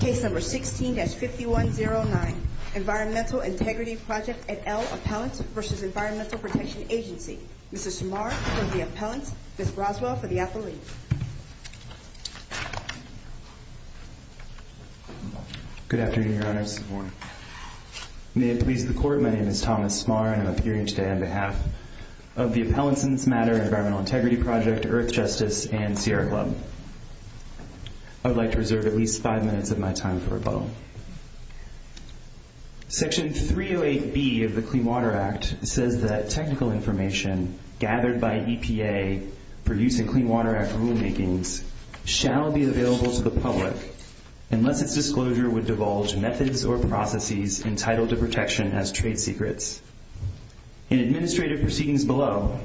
Case number 16-5109, Environmental Integrity Project et al. Appellants v. Environmental Protection Agency. Mr. Smarr for the appellants, Ms. Roswell for the appellees. Good afternoon, Your Honors. Good morning. May it please the Court, my name is Thomas Smarr and I'm appearing today on behalf of the Appellants in this matter, Environmental Integrity Project, Earth Justice and Sierra Club. I would like to reserve at least five minutes of my time for rebuttal. Section 308B of the Clean Water Act says that technical information gathered by EPA for use in Clean Water Act rulemakings shall be available to the public unless its disclosure would divulge methods or processes entitled to protection as trade secrets. In administrative proceedings below,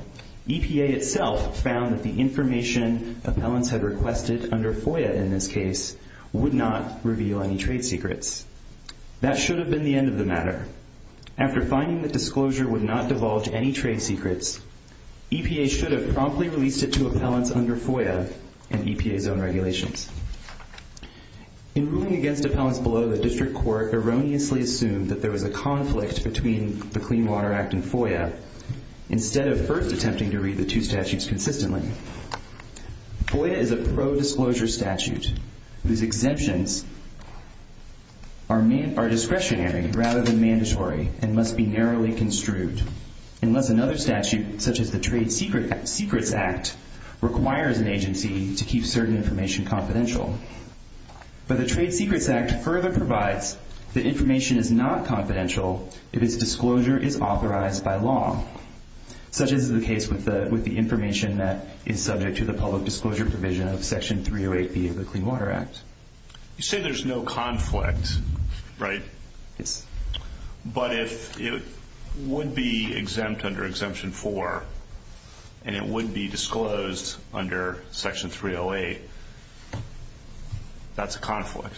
EPA itself found that the information appellants had requested under FOIA in this case would not reveal any trade secrets. That should have been the end of the matter. After finding that disclosure would not divulge any trade secrets, EPA should have promptly released it to appellants under FOIA and EPA's own regulations. In ruling against appellants below, the District Court erroneously assumed that there was a conflict between the Clean Water Act and FOIA instead of first attempting to read the two statutes consistently. FOIA is a pro-disclosure statute whose exemptions are discretionary rather than mandatory and must be narrowly construed unless another statute, such as the Trade Secrets Act, requires an agency to keep certain information confidential. But the Trade Secrets Act further provides that information is not confidential if its disclosure is authorized by law, such as is the case with the information that is subject to the public disclosure provision of Section 308B of the Clean Water Act. You say there's no conflict, right? Yes. But if it would be exempt under Exemption 4 and it would be disclosed under Section 308, that's a conflict.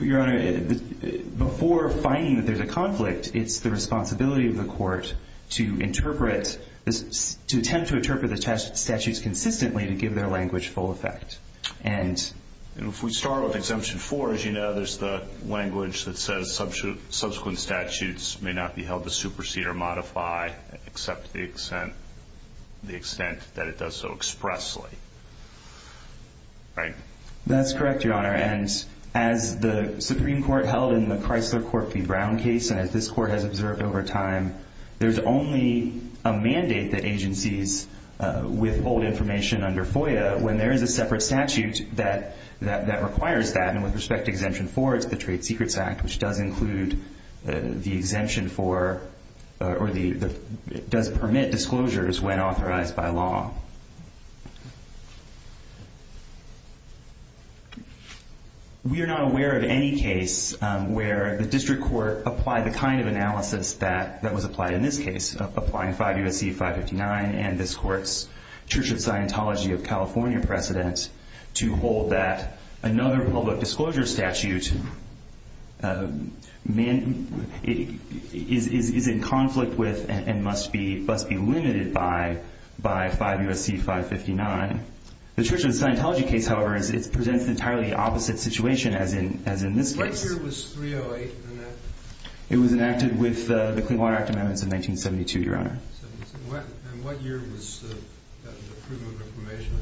Your Honor, before finding that there's a conflict, it's the responsibility of the court to interpret, to attempt to interpret the statutes consistently to give their language full effect. And if we start with Exemption 4, as you know, there's the language that says subsequent statutes may not be held to supersede or modify except to the extent that it does so expressly. That's correct, Your Honor. And as the Supreme Court held in the Chrysler v. Brown case, and as this court has observed over time, there's only a mandate that agencies withhold information under FOIA when there is a separate statute that requires that. And with respect to Exemption 4, it's the Trade Secrets Act, which does include the exemption for or does permit disclosures when authorized by law. We are not aware of any case where the district court applied the kind of analysis that was applied in this case, applying 5 U.S.C. 559 and this court's Church of Scientology of California precedent to hold that another public disclosure statute is in conflict with and must be limited by 5 U.S.C. 559. The Church of Scientology case, however, presents an entirely opposite situation as in this case. Right here was 308 in that. It was enacted with the Clean Water Act Amendments of 1972, Your Honor. And what year was the approval of information?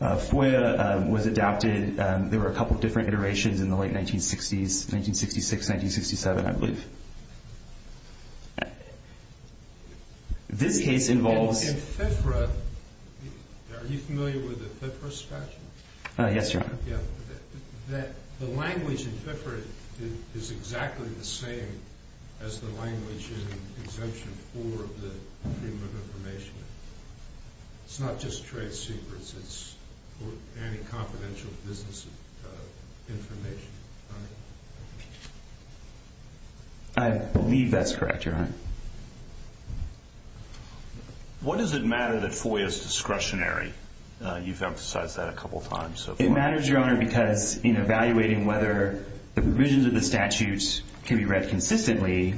FOIA was adopted. There were a couple of different iterations in the late 1960s, 1966, 1967, I believe. This case involves- In FIFRA, are you familiar with the FIFRA statute? Yes, Your Honor. The language in FIFRA is exactly the same as the language in Exemption 4 of the Freedom of Information Act. It's not just trade secrets. It's anti-confidential business information. I believe that's correct, Your Honor. What does it matter that FOIA is discretionary? You've emphasized that a couple of times. It matters, Your Honor, because in evaluating whether the provisions of the statute can be read consistently,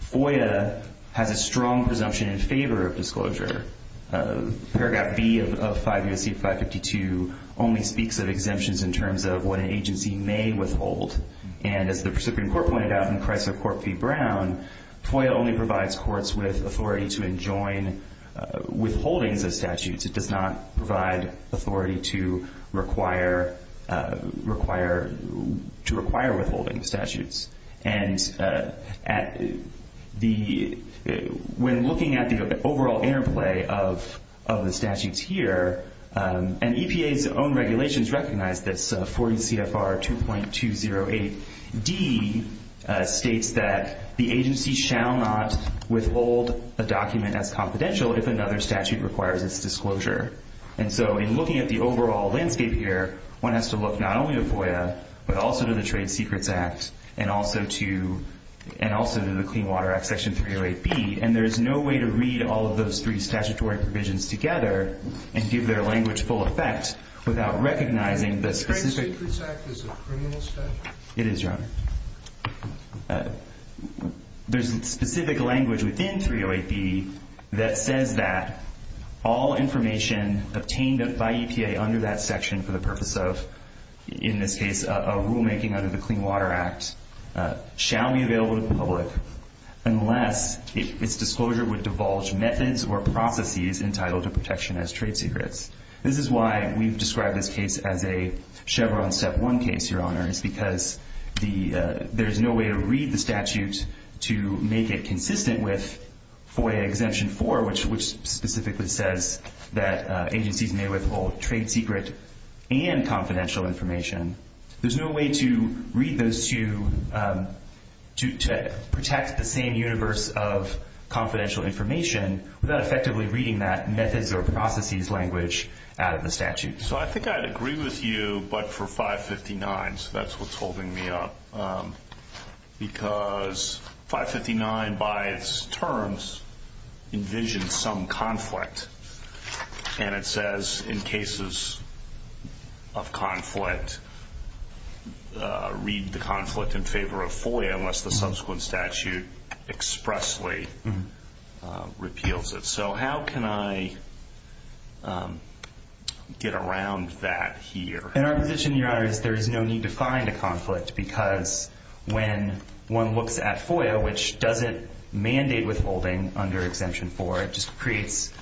FOIA has a strong presumption in favor of disclosure. Paragraph B of 5 U.S.C. 552 only speaks of exemptions in terms of what an agency may withhold. And as the Supreme Court pointed out in Crisis of Court v. Brown, FOIA only provides courts with authority to enjoin withholdings of statutes. It does not provide authority to require withholding of statutes. When looking at the overall interplay of the statutes here, and EPA's own regulations recognize this, 40 CFR 2.208D states that the agency shall not withhold a document as confidential if another statute requires its disclosure. And so in looking at the overall landscape here, one has to look not only to FOIA, but also to the Trade Secrets Act and also to the Clean Water Act Section 308B. And there is no way to read all of those three statutory provisions together and give their language full effect without recognizing the specific... The Trade Secrets Act is a criminal statute? It is, Your Honor. There's a specific language within 308B that says that all information obtained by EPA under that section for the purpose of, in this case, a rulemaking under the Clean Water Act, shall be available to the public unless its disclosure would divulge methods or processes entitled to protection as trade secrets. This is why we've described this case as a Chevron Step 1 case, Your Honor, is because there's no way to read the statute to make it consistent with FOIA Exemption 4, which specifically says that agencies may withhold trade secret and confidential information. There's no way to read those two to protect the same universe of confidential information without effectively reading that methods or processes language out of the statute. So I think I'd agree with you, but for 559, so that's what's holding me up, because 559, by its terms, envisions some conflict, and it says in cases of conflict, read the conflict in favor of FOIA unless the subsequent statute expressly repeals it. So how can I get around that here? And our position, Your Honor, is there is no need to find a conflict because when one looks at FOIA, which doesn't mandate withholding under Exemption 4, it just creates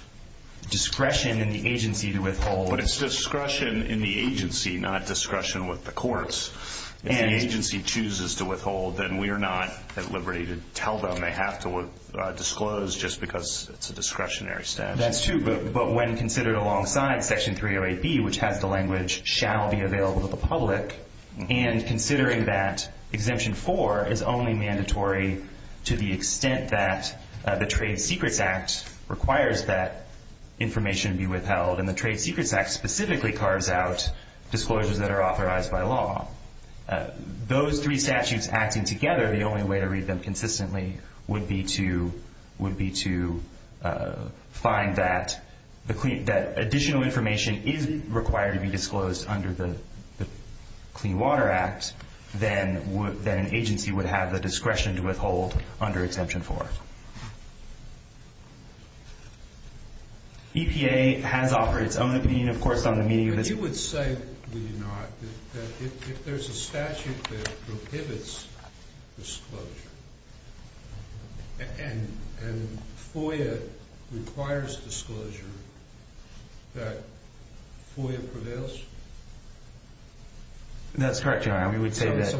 discretion in the agency to withhold. But it's discretion in the agency, not discretion with the courts. If the agency chooses to withhold, then we are not at liberty to tell them they have to disclose just because it's a discretionary statute. That's true, but when considered alongside Section 308B, which has the language shall be available to the public, and considering that Exemption 4 is only mandatory to the extent that the Trade Secrets Act requires that information be withheld, and the Trade Secrets Act specifically carves out disclosures that are authorized by law, those three statutes acting together, the only way to read them consistently would be to find that additional information is required to be disclosed under the Clean Water Act, then an agency would have the discretion to withhold under Exemption 4. EPA has offered its own opinion, of course, on the meaning of this. You would say, would you not, that if there's a statute that prohibits disclosure and FOIA requires disclosure, that FOIA prevails? That's correct, Your Honor. We would say that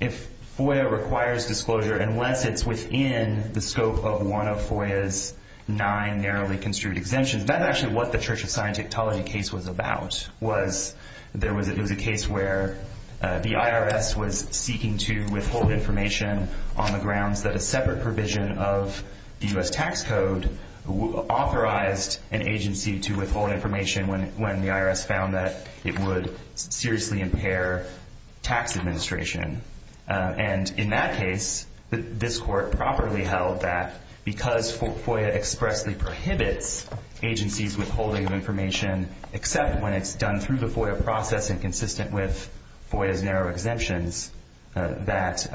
if FOIA requires disclosure, unless it's within the scope of one of FOIA's nine narrowly construed exemptions, that's actually what the Church of Science and Technology case was about, was there was a case where the IRS was seeking to withhold information on the grounds that a separate provision of the U.S. tax code authorized an agency to withhold information when the IRS found that it would seriously impair tax administration. And in that case, this Court properly held that because FOIA expressly prohibits agencies' withholding of information, except when it's done through the FOIA process and consistent with FOIA's narrow exemptions, that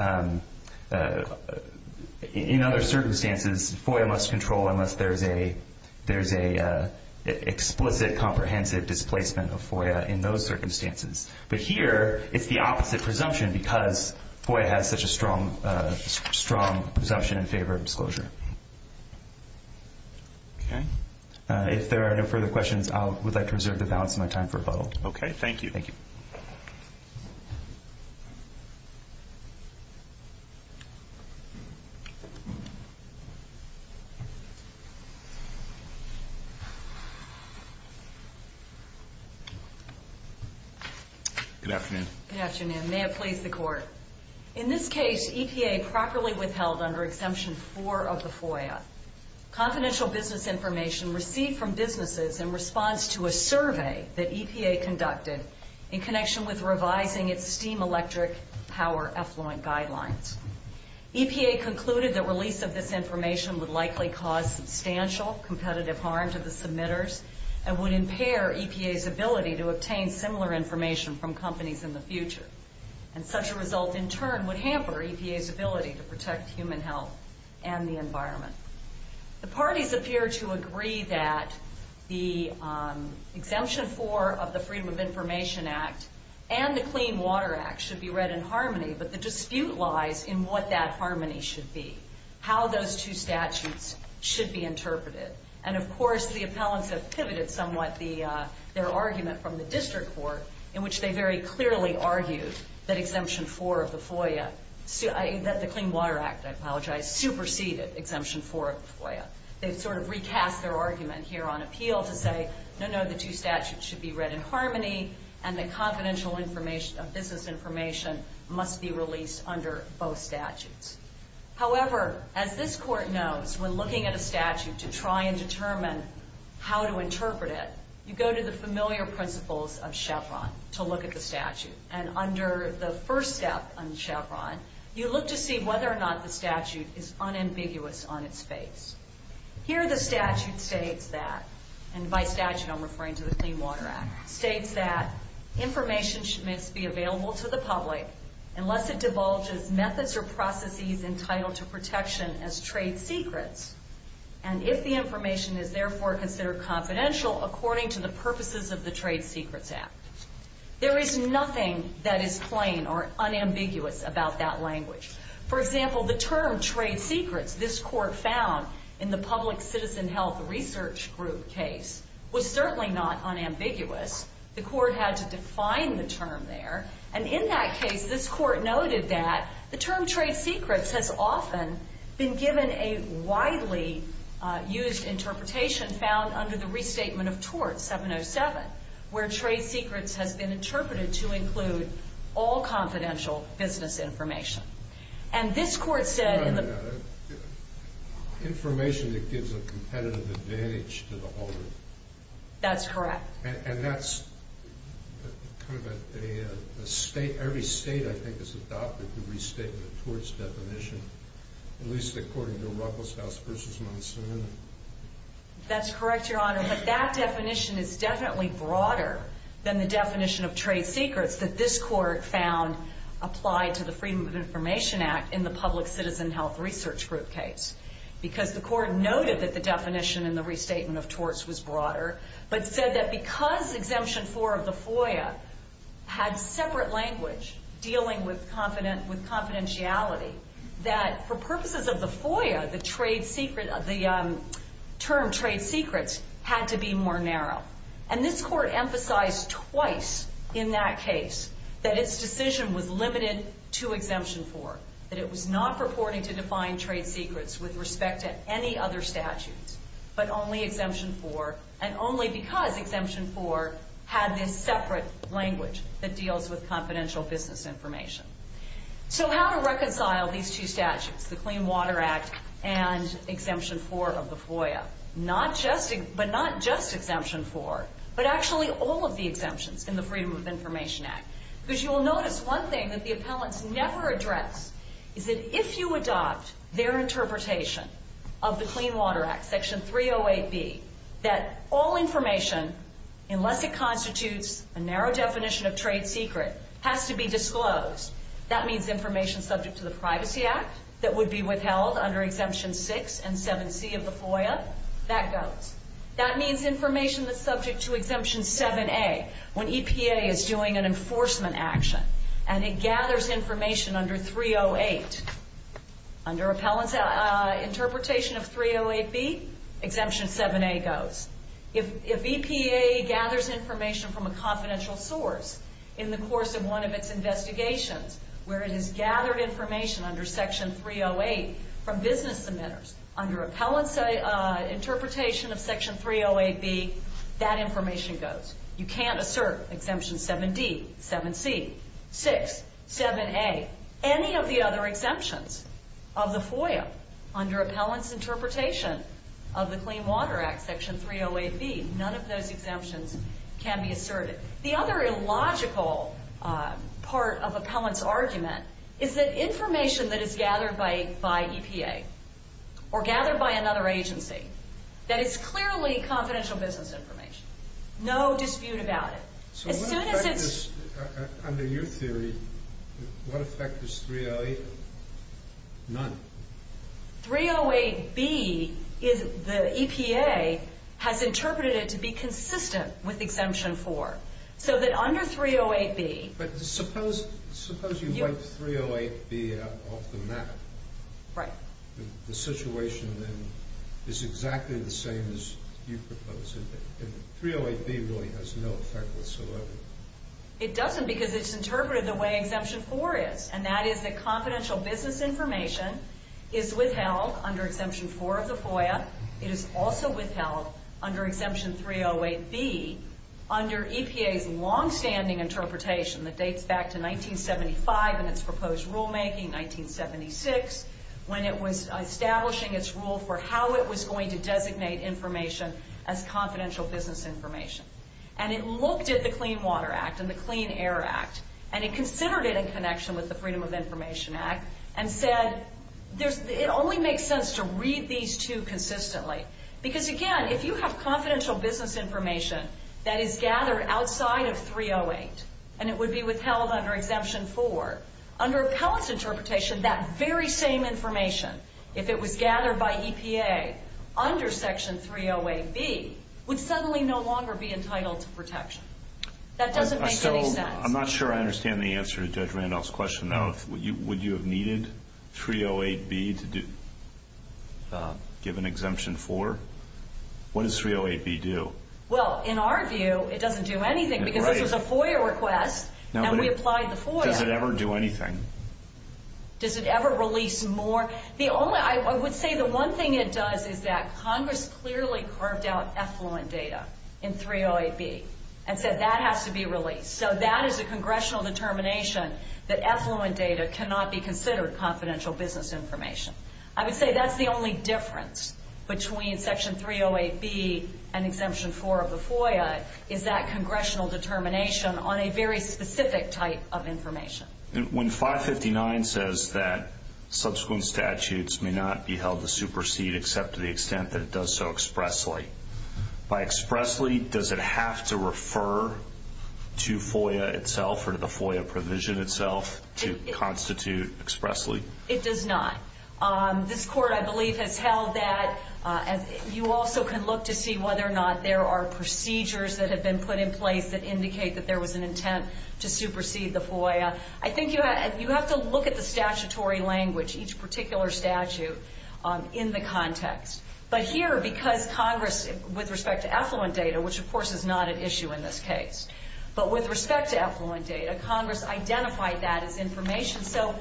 in other circumstances, FOIA must control unless there's an explicit, comprehensive displacement of FOIA in those circumstances. But here, it's the opposite presumption because FOIA has such a strong presumption in favor of disclosure. Okay. If there are no further questions, I would like to reserve the balance of my time for rebuttal. Thank you. Good afternoon. Good afternoon. May it please the Court. In this case, EPA properly withheld under Exemption 4 of the FOIA confidential business information received from businesses in response to a survey that EPA conducted in connection with revising its steam electric power effluent guidelines. EPA concluded that release of this information would likely cause substantial competitive harm to the submitters and would impair EPA's ability to obtain similar information from companies in the future. And such a result, in turn, would hamper EPA's ability to protect human health and the environment. The parties appear to agree that the Exemption 4 of the Freedom of Information Act and the Clean Water Act should be read in harmony, but the dispute lies in what that harmony should be, how those two statutes should be interpreted. And, of course, the appellants have pivoted somewhat their argument from the district court in which they very clearly argued that the Clean Water Act superseded Exemption 4 of the FOIA. They've sort of recast their argument here on appeal to say, no, no, the two statutes should be read in harmony, and the confidential business information must be released under both statutes. However, as this court knows, when looking at a statute to try and determine how to interpret it, you go to the familiar principles of Chevron to look at the statute. And under the first step on Chevron, you look to see whether or not the statute is unambiguous on its face. Here the statute states that, and by statute I'm referring to the Clean Water Act, states that information should be available to the public unless it divulges methods or processes entitled to protection as trade secrets, and if the information is therefore considered confidential according to the purposes of the Trade Secrets Act. There is nothing that is plain or unambiguous about that language. For example, the term trade secrets, this court found in the Public Citizen Health Research Group case, was certainly not unambiguous. The court had to define the term there, and in that case, this court noted that the term trade secrets has often been given a widely used interpretation found under the restatement of tort 707, where trade secrets has been interpreted to include all confidential business information. And this court said in the... Information that gives a competitive advantage to the holder. That's correct. And that's kind of a state... Every state, I think, has adopted the restatement of torts definition, at least according to Ruffles House versus Monsanto. That's correct, Your Honor, but that definition is definitely broader than the definition of trade secrets that this court found applied to the Freedom of Information Act in the Public Citizen Health Research Group case, because the court noted that the definition in the restatement of torts was broader, but said that because Exemption 4 of the FOIA had separate language dealing with confidentiality, that for purposes of the FOIA, the term trade secrets had to be more narrow. And this court emphasized twice in that case that its decision was limited to Exemption 4, that it was not purporting to define trade secrets with respect to any other statutes, but only Exemption 4, and only because Exemption 4 had this separate language that deals with confidential business information. So how to reconcile these two statutes, the Clean Water Act and Exemption 4 of the FOIA? But not just Exemption 4, but actually all of the exemptions in the Freedom of Information Act. Because you will notice one thing that the appellants never address, is that if you adopt their interpretation of the Clean Water Act, Section 308B, that all information, unless it constitutes a narrow definition of trade secret, has to be disclosed, that means information subject to the Privacy Act that would be withheld under Exemption 6 and 7C of the FOIA, that goes. That means information that's subject to Exemption 7A, when EPA is doing an enforcement action, and it gathers information under 308. Under appellants' interpretation of 308B, Exemption 7A goes. If EPA gathers information from a confidential source in the course of one of its investigations, where it has gathered information under Section 308 from business submitters, under appellants' interpretation of Section 308B, that information goes. You can't assert Exemption 7D, 7C, 6, 7A, any of the other exemptions of the FOIA under appellants' interpretation of the Clean Water Act, Section 308B. None of those exemptions can be asserted. The other illogical part of appellants' argument is that information that is gathered by EPA or gathered by another agency, that is clearly confidential business information. No dispute about it. As soon as it's... Under your theory, what effect is 308? None. 308B, the EPA has interpreted it to be consistent with Exemption 4. So that under 308B... But suppose you wipe 308B off the map. Right. The situation then is exactly the same as you propose. 308B really has no effect whatsoever. It doesn't because it's interpreted the way Exemption 4 is, and that is that confidential business information is withheld under Exemption 4 of the FOIA. It is also withheld under Exemption 308B under EPA's longstanding interpretation that dates back to 1975 and its proposed rulemaking, 1976, when it was establishing its rule for how it was going to designate information as confidential business information. And it looked at the Clean Water Act and the Clean Air Act, and it considered it in connection with the Freedom of Information Act and said it only makes sense to read these two consistently. Because, again, if you have confidential business information that is gathered outside of 308 and it would be withheld under Exemption 4, under a palace interpretation that very same information, if it was gathered by EPA under Section 308B, would suddenly no longer be entitled to protection. That doesn't make any sense. So I'm not sure I understand the answer to Judge Randolph's question, though. Would you have needed 308B to give an exemption 4? What does 308B do? Well, in our view, it doesn't do anything because this was a FOIA request and we applied the FOIA. Does it ever do anything? Does it ever release more? I would say the one thing it does is that Congress clearly carved out effluent data in 308B and said that has to be released. So that is a congressional determination that effluent data cannot be considered confidential business information. I would say that's the only difference between Section 308B and Exemption 4 of the FOIA is that congressional determination on a very specific type of information. When 559 says that subsequent statutes may not be held to supersede except to the extent that it does so expressly, by expressly does it have to refer to FOIA itself or to the FOIA provision itself to constitute expressly? It does not. This Court, I believe, has held that. You also can look to see whether or not there are procedures that have been put in place that indicate that there was an intent to supersede the FOIA. I think you have to look at the statutory language, each particular statute, in the context. But here, because Congress, with respect to effluent data, which of course is not an issue in this case, but with respect to effluent data, Congress identified that as information. So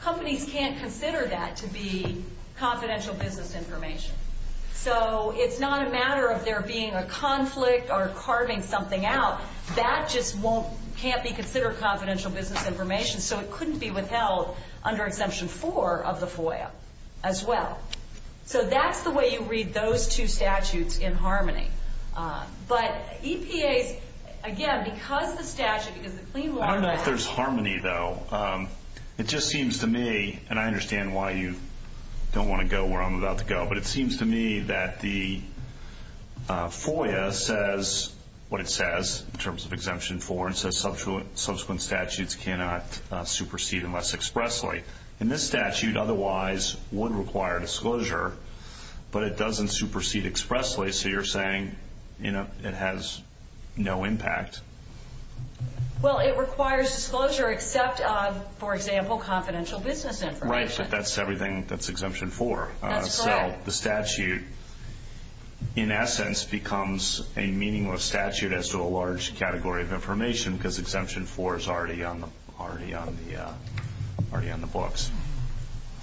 companies can't consider that to be confidential business information. So it's not a matter of there being a conflict or carving something out. That just can't be considered confidential business information, so it couldn't be withheld under Exemption 4 of the FOIA as well. So that's the way you read those two statutes in harmony. But EPAs, again, because the statute is a clean law... It just seems to me, and I understand why you don't want to go where I'm about to go, but it seems to me that the FOIA says what it says in terms of Exemption 4. It says subsequent statutes cannot supersede unless expressly. And this statute otherwise would require disclosure, but it doesn't supersede expressly, so you're saying it has no impact. Well, it requires disclosure except on, for example, confidential business information. Right, but that's everything that's Exemption 4. That's correct. So the statute, in essence, becomes a meaningless statute as to a large category of information because Exemption 4 is already on the books.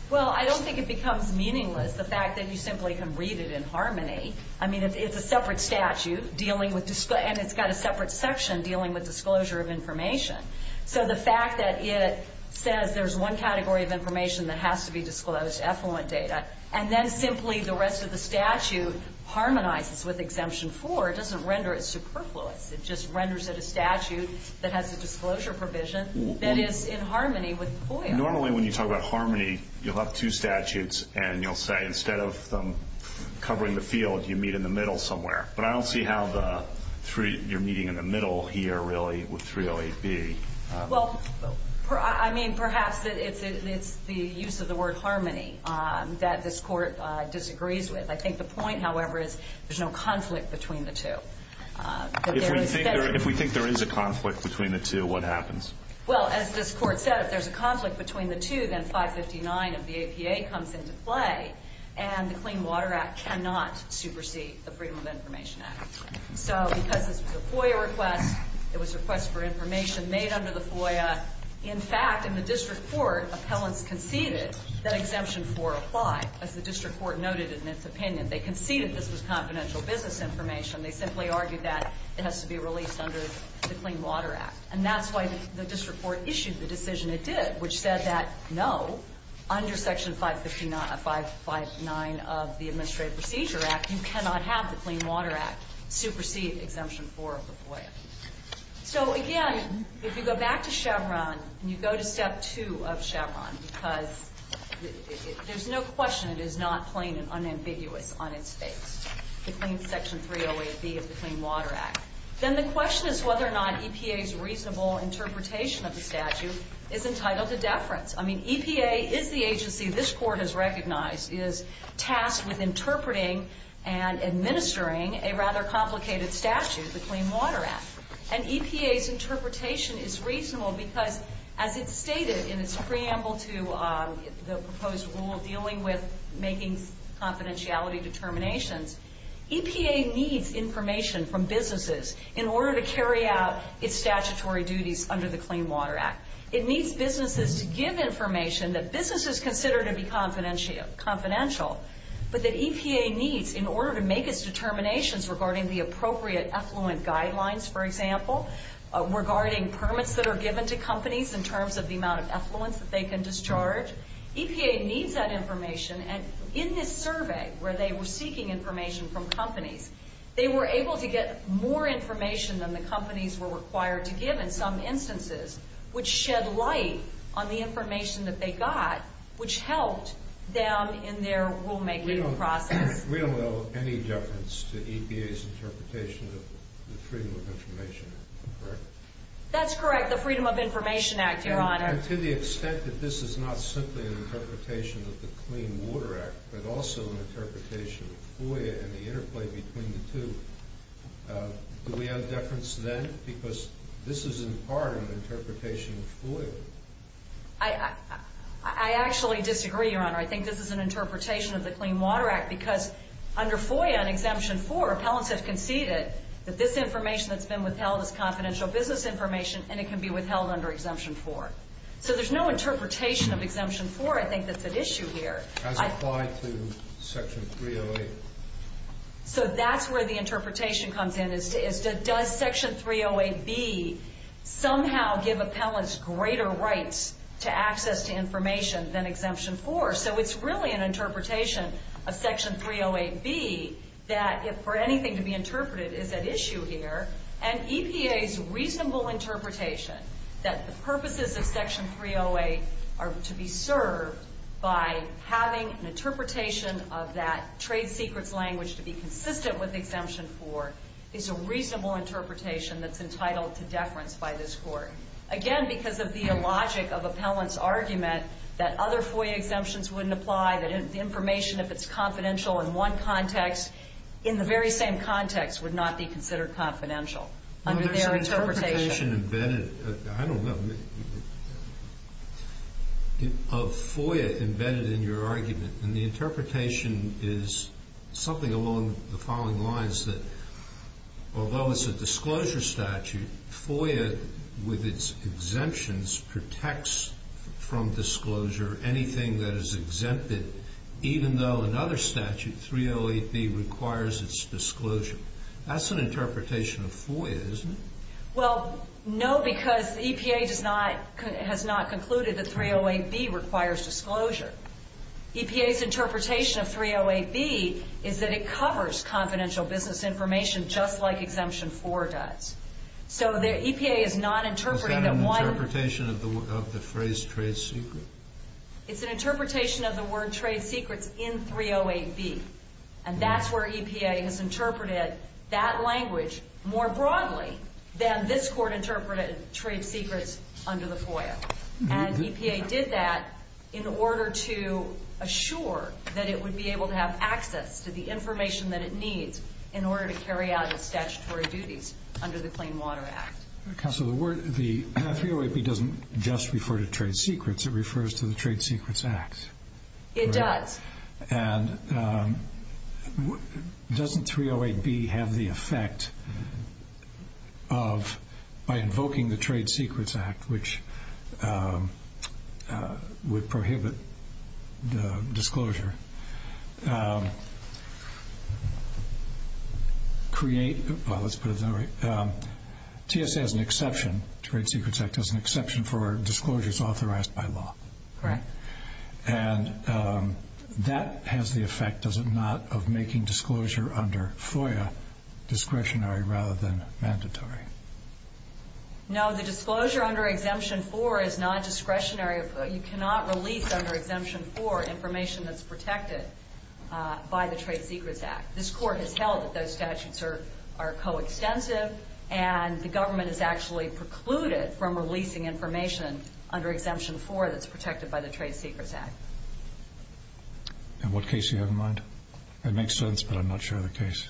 Well, I don't think it becomes meaningless, the fact that you simply can read it in harmony. I mean, it's a separate statute, and it's got a separate section dealing with disclosure of information. So the fact that it says there's one category of information that has to be disclosed, effluent data, and then simply the rest of the statute harmonizes with Exemption 4 doesn't render it superfluous. It just renders it a statute that has a disclosure provision that is in harmony with FOIA. Normally when you talk about harmony, you'll have two statutes, and you'll say instead of covering the field, you meet in the middle somewhere. But I don't see how your meeting in the middle here really would really be. Well, I mean, perhaps it's the use of the word harmony that this Court disagrees with. I think the point, however, is there's no conflict between the two. If we think there is a conflict between the two, what happens? Well, as this Court said, if there's a conflict between the two, then 559 of the APA comes into play, and the Clean Water Act cannot supersede the Freedom of Information Act. So because this was a FOIA request, it was a request for information made under the FOIA. In fact, in the district court, appellants conceded that Exemption 4 applied, as the district court noted in its opinion. They conceded this was confidential business information. They simply argued that it has to be released under the Clean Water Act. And that's why the district court issued the decision it did, which said that no, under Section 559 of the Administrative Procedure Act, you cannot have the Clean Water Act supersede Exemption 4 of the FOIA. So again, if you go back to Chevron and you go to Step 2 of Chevron, because there's no question it is not plain and unambiguous on its face, the Clean Section 308B of the Clean Water Act, then the question is whether or not EPA's reasonable interpretation of the statute is entitled to deference. I mean, EPA is the agency this court has recognized is tasked with interpreting and administering a rather complicated statute, the Clean Water Act. And EPA's interpretation is reasonable because, as it's stated in its preamble to the proposed rule dealing with making confidentiality determinations, EPA needs information from businesses in order to carry out its statutory duties under the Clean Water Act. It needs businesses to give information that businesses consider to be confidential, but that EPA needs in order to make its determinations regarding the appropriate effluent guidelines, for example, regarding permits that are given to companies in terms of the amount of effluents that they can discharge. EPA needs that information. And in this survey where they were seeking information from companies, they were able to get more information than the companies were required to give in some instances, which shed light on the information that they got, which helped them in their rulemaking process. We don't owe any deference to EPA's interpretation of the Freedom of Information Act, correct? That's correct, the Freedom of Information Act, Your Honor. And to the extent that this is not simply an interpretation of the Clean Water Act, but also an interpretation of FOIA and the interplay between the two, do we owe deference then? Because this is in part an interpretation of FOIA. I actually disagree, Your Honor. I think this is an interpretation of the Clean Water Act because under FOIA and Exemption 4, appellants have conceded that this information that's been withheld is confidential business information and it can be withheld under Exemption 4. So there's no interpretation of Exemption 4, I think, that's at issue here. As applied to Section 308. So that's where the interpretation comes in is, does Section 308B somehow give appellants greater rights to access to information than Exemption 4? So it's really an interpretation of Section 308B that, for anything to be interpreted, is at issue here. And EPA's reasonable interpretation that the purposes of Section 308 are to be served by having an interpretation of that trade secrets language to be consistent with Exemption 4 is a reasonable interpretation that's entitled to deference by this Court. Again, because of the logic of appellants' argument that other FOIA exemptions wouldn't apply, that information, if it's confidential in one context, in the very same context would not be considered confidential under their interpretation. There's an interpretation embedded, I don't know, of FOIA embedded in your argument. And the interpretation is something along the following lines, that although it's a disclosure statute, FOIA, with its exemptions, protects from disclosure anything that is exempted, even though another statute, 308B, requires its disclosure. That's an interpretation of FOIA, isn't it? Well, no, because EPA has not concluded that 308B requires disclosure. EPA's interpretation of 308B is that it covers confidential business information just like Exemption 4 does. So EPA is not interpreting that one... Is that an interpretation of the phrase trade secret? It's an interpretation of the word trade secrets in 308B. And that's where EPA has interpreted that language more broadly than this Court interpreted trade secrets under the FOIA. And EPA did that in order to assure that it would be able to have access to the information that it needs in order to carry out its statutory duties under the Clean Water Act. Counsel, the 308B doesn't just refer to trade secrets. It refers to the Trade Secrets Act. It does. And doesn't 308B have the effect of, by invoking the Trade Secrets Act, which would prohibit the disclosure, create... Well, let's put it that way. TSA has an exception. Trade Secrets Act has an exception for disclosures authorized by law. And that has the effect, does it not, of making disclosure under FOIA discretionary rather than mandatory? No, the disclosure under Exemption 4 is not discretionary. You cannot release under Exemption 4 information that's protected by the Trade Secrets Act. This Court has held that those statutes are coextensive, and the government has actually precluded from releasing information under Exemption 4 that's protected by the Trade Secrets Act. And what case do you have in mind? It makes sense, but I'm not sure of the case.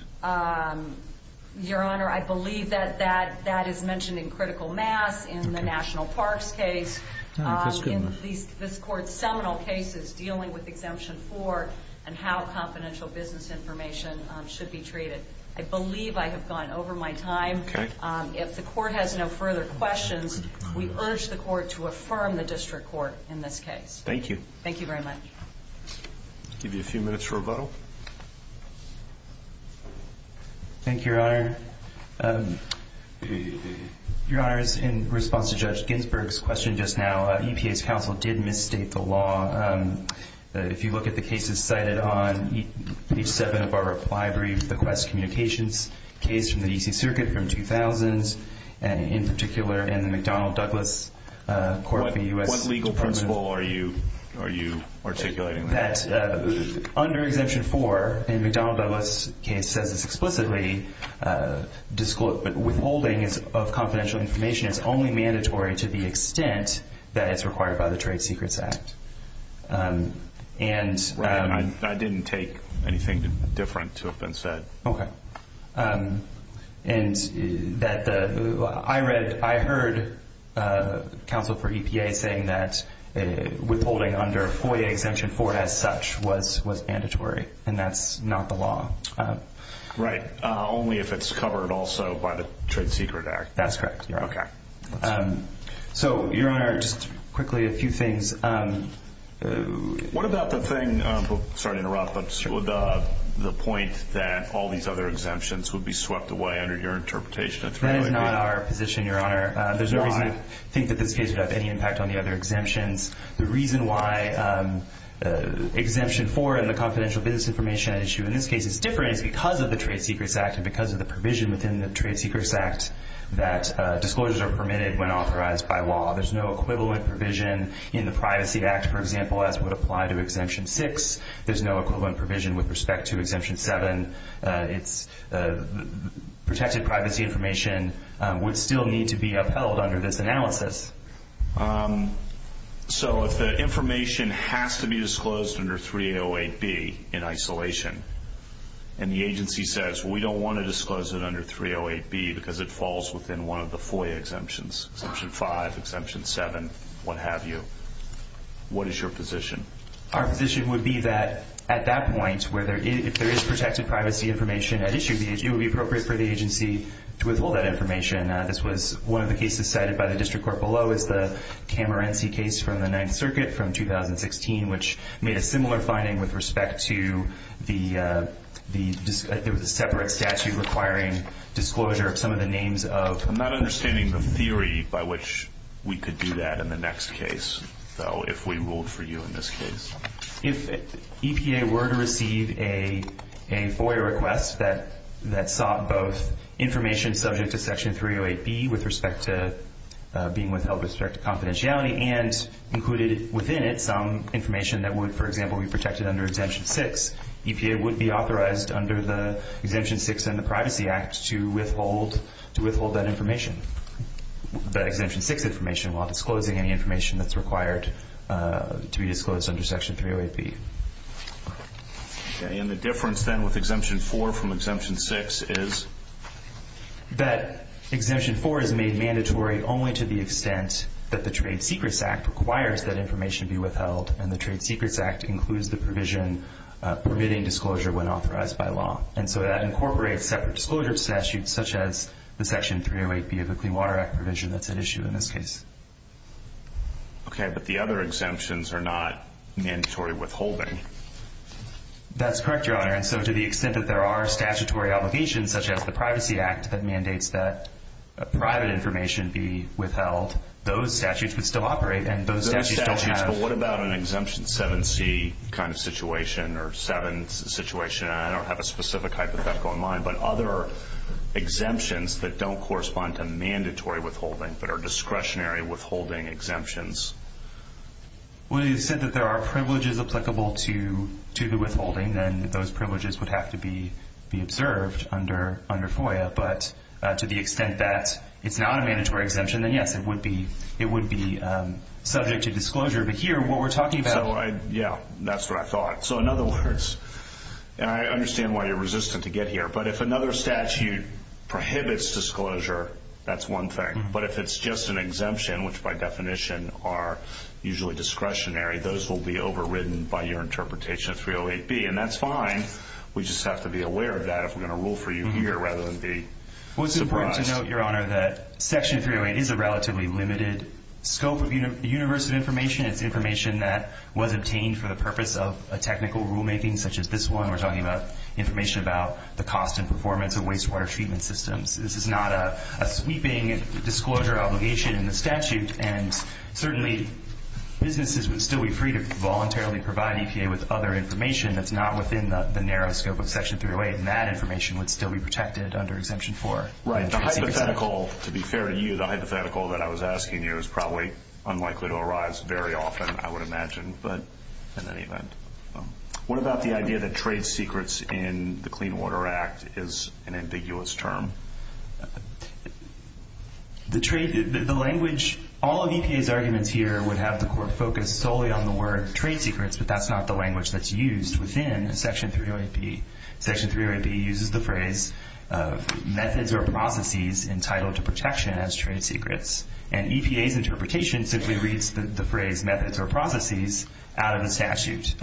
Your Honor, I believe that that is mentioned in Critical Mass, in the National Parks case, in this Court's seminal cases dealing with Exemption 4 and how confidential business information should be treated. I believe I have gone over my time. If the Court has no further questions, we urge the Court to affirm the District Court in this case. Thank you. Thank you very much. I'll give you a few minutes for rebuttal. Thank you, Your Honor. Your Honors, in response to Judge Ginsburg's question just now, EPA's counsel did misstate the law. If you look at the cases cited on page 7 of our reply brief, the Quest Communications case from the DC Circuit from 2000s, in particular, and the McDonnell-Douglas court for the U.S. Department of— What legal principle are you articulating there? Under Exemption 4, and McDonnell-Douglas case says this explicitly, withholding of confidential information is only mandatory to the extent that it's required by the Trade Secrets Act. I didn't take anything different to have been said. Okay. I heard counsel for EPA saying that withholding under FOIA Exemption 4 as such was mandatory, and that's not the law. Right. Only if it's covered also by the Trade Secret Act. That's correct, Your Honor. Okay. So, Your Honor, just quickly a few things. What about the point that all these other exemptions would be swept away under your interpretation of FOIA? That is not our position, Your Honor. There's no reason to think that this case would have any impact on the other exemptions. The reason why Exemption 4 and the confidential business information issue in this case is different is because of the Trade Secrets Act and because of the provision within the Trade Secrets Act that disclosures are permitted when authorized by law. There's no equivalent provision in the Privacy Act, for example, as would apply to Exemption 6. There's no equivalent provision with respect to Exemption 7. Protected privacy information would still need to be upheld under this analysis. So if the information has to be disclosed under 308B in isolation, and the agency says, well, we don't want to disclose it under 308B because it falls within one of the FOIA exemptions, Exemption 5, Exemption 7, what have you, what is your position? Our position would be that at that point, if there is protected privacy information at issue, it would be appropriate for the agency to withhold that information. This was one of the cases cited by the district court below is the Camarenci case from the Ninth Circuit from 2016, which made a similar finding with respect to the separate statute requiring disclosure of some of the names of I'm not understanding the theory by which we could do that in the next case, though, if we ruled for you in this case. If EPA were to receive a FOIA request that sought both information subject to Section 308B with respect to being withheld with respect to confidentiality and included within it some information that would, for example, be protected under Exemption 6, EPA would be authorized under the Exemption 6 and the Privacy Act to withhold that information, that Exemption 6 information while disclosing any information that's required to be disclosed under Section 308B. And the difference then with Exemption 4 from Exemption 6 is? That Exemption 4 is made mandatory only to the extent that the Trade Secrets Act requires that information be withheld, and the Trade Secrets Act includes the provision permitting disclosure when authorized by law. And so that incorporates separate disclosure statutes, such as the Section 308B of the Clean Water Act provision that's at issue in this case. OK, but the other exemptions are not mandatory withholding. That's correct, Your Honor, and so to the extent that there are statutory obligations, such as the Privacy Act that mandates that private information be withheld, those statutes would still operate. But what about an Exemption 7C kind of situation or 7 situation? I don't have a specific hypothetical in mind, but other exemptions that don't correspond to mandatory withholding but are discretionary withholding exemptions? Well, you said that there are privileges applicable to the withholding, then those privileges would have to be observed under FOIA. But to the extent that it's not a mandatory exemption, then yes, it would be subject to disclosure. But here, what we're talking about— Yeah, that's what I thought. So in other words, and I understand why you're resistant to get here, but if another statute prohibits disclosure, that's one thing. But if it's just an exemption, which by definition are usually discretionary, those will be overridden by your interpretation of 308B, and that's fine. We just have to be aware of that if we're going to rule for you here rather than be surprised. Well, it's important to note, Your Honor, that Section 308 is a relatively limited scope of universal information. It's information that was obtained for the purpose of a technical rulemaking, such as this one. We're talking about information about the cost and performance of wastewater treatment systems. This is not a sweeping disclosure obligation in the statute, and certainly businesses would still be free to voluntarily provide EPA with other information that's not within the narrow scope of Section 308, and that information would still be protected under Exemption 4. Right. The hypothetical, to be fair to you, the hypothetical that I was asking you is probably unlikely to arise very often, I would imagine, but in any event. What about the idea that trade secrets in the Clean Water Act is an ambiguous term? The language, all of EPA's arguments here would have the Court focus solely on the word trade secrets, but that's not the language that's used within Section 308B. Section 308B uses the phrase methods or processes entitled to protection as trade secrets, and EPA's interpretation simply reads the phrase methods or processes out of the statute.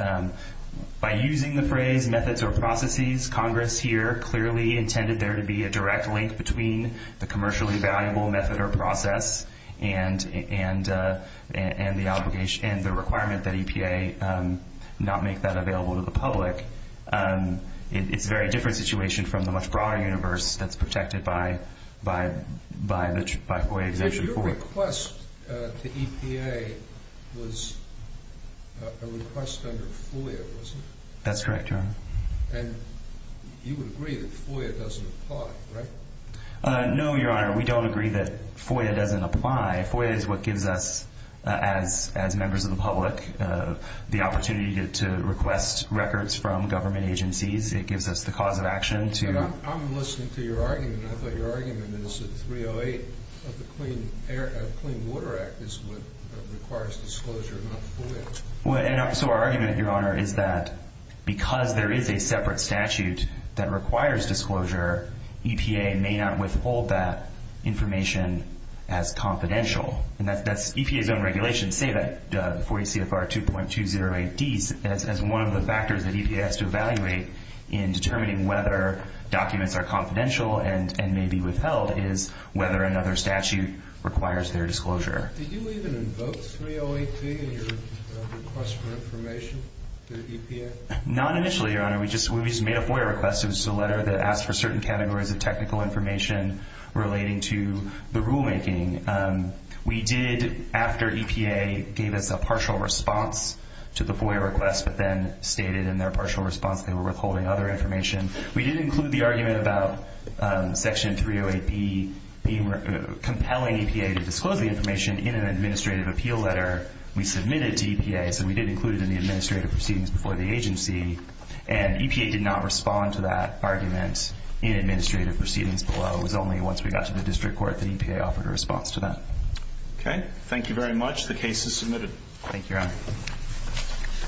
By using the phrase methods or processes, Congress here clearly intended there to be a direct link between the commercially valuable method or process and the requirement that EPA not make that available to the public. It's a very different situation from the much broader universe that's protected by FOIA Exemption 4. Your request to EPA was a request under FOIA, wasn't it? That's correct, Your Honor. And you would agree that FOIA doesn't apply, right? No, Your Honor. We don't agree that FOIA doesn't apply. FOIA is what gives us, as members of the public, the opportunity to request records from government agencies. It gives us the cause of action to I'm listening to your argument. I thought your argument is that 308 of the Clean Water Act is what requires disclosure of FOIA. So our argument, Your Honor, is that because there is a separate statute that requires disclosure, EPA may not withhold that information as confidential. EPA's own regulations say that, the 40 CFR 2.208D, as one of the factors that EPA has to evaluate in determining whether documents are confidential and may be withheld is whether another statute requires their disclosure. Did you even invoke 308D in your request for information to EPA? Not initially, Your Honor. We just made a FOIA request. It was a letter that asked for certain categories of technical information relating to the rulemaking. We did, after EPA gave us a partial response to the FOIA request, but then stated in their partial response they were withholding other information, we did include the argument about Section 308B compelling EPA to disclose the information in an administrative appeal letter we submitted to EPA. So we did include it in the administrative proceedings before the agency, and EPA did not respond to that argument in administrative proceedings below. It was only once we got to the district court that EPA offered a response to that. Okay. Thank you very much. The case is submitted.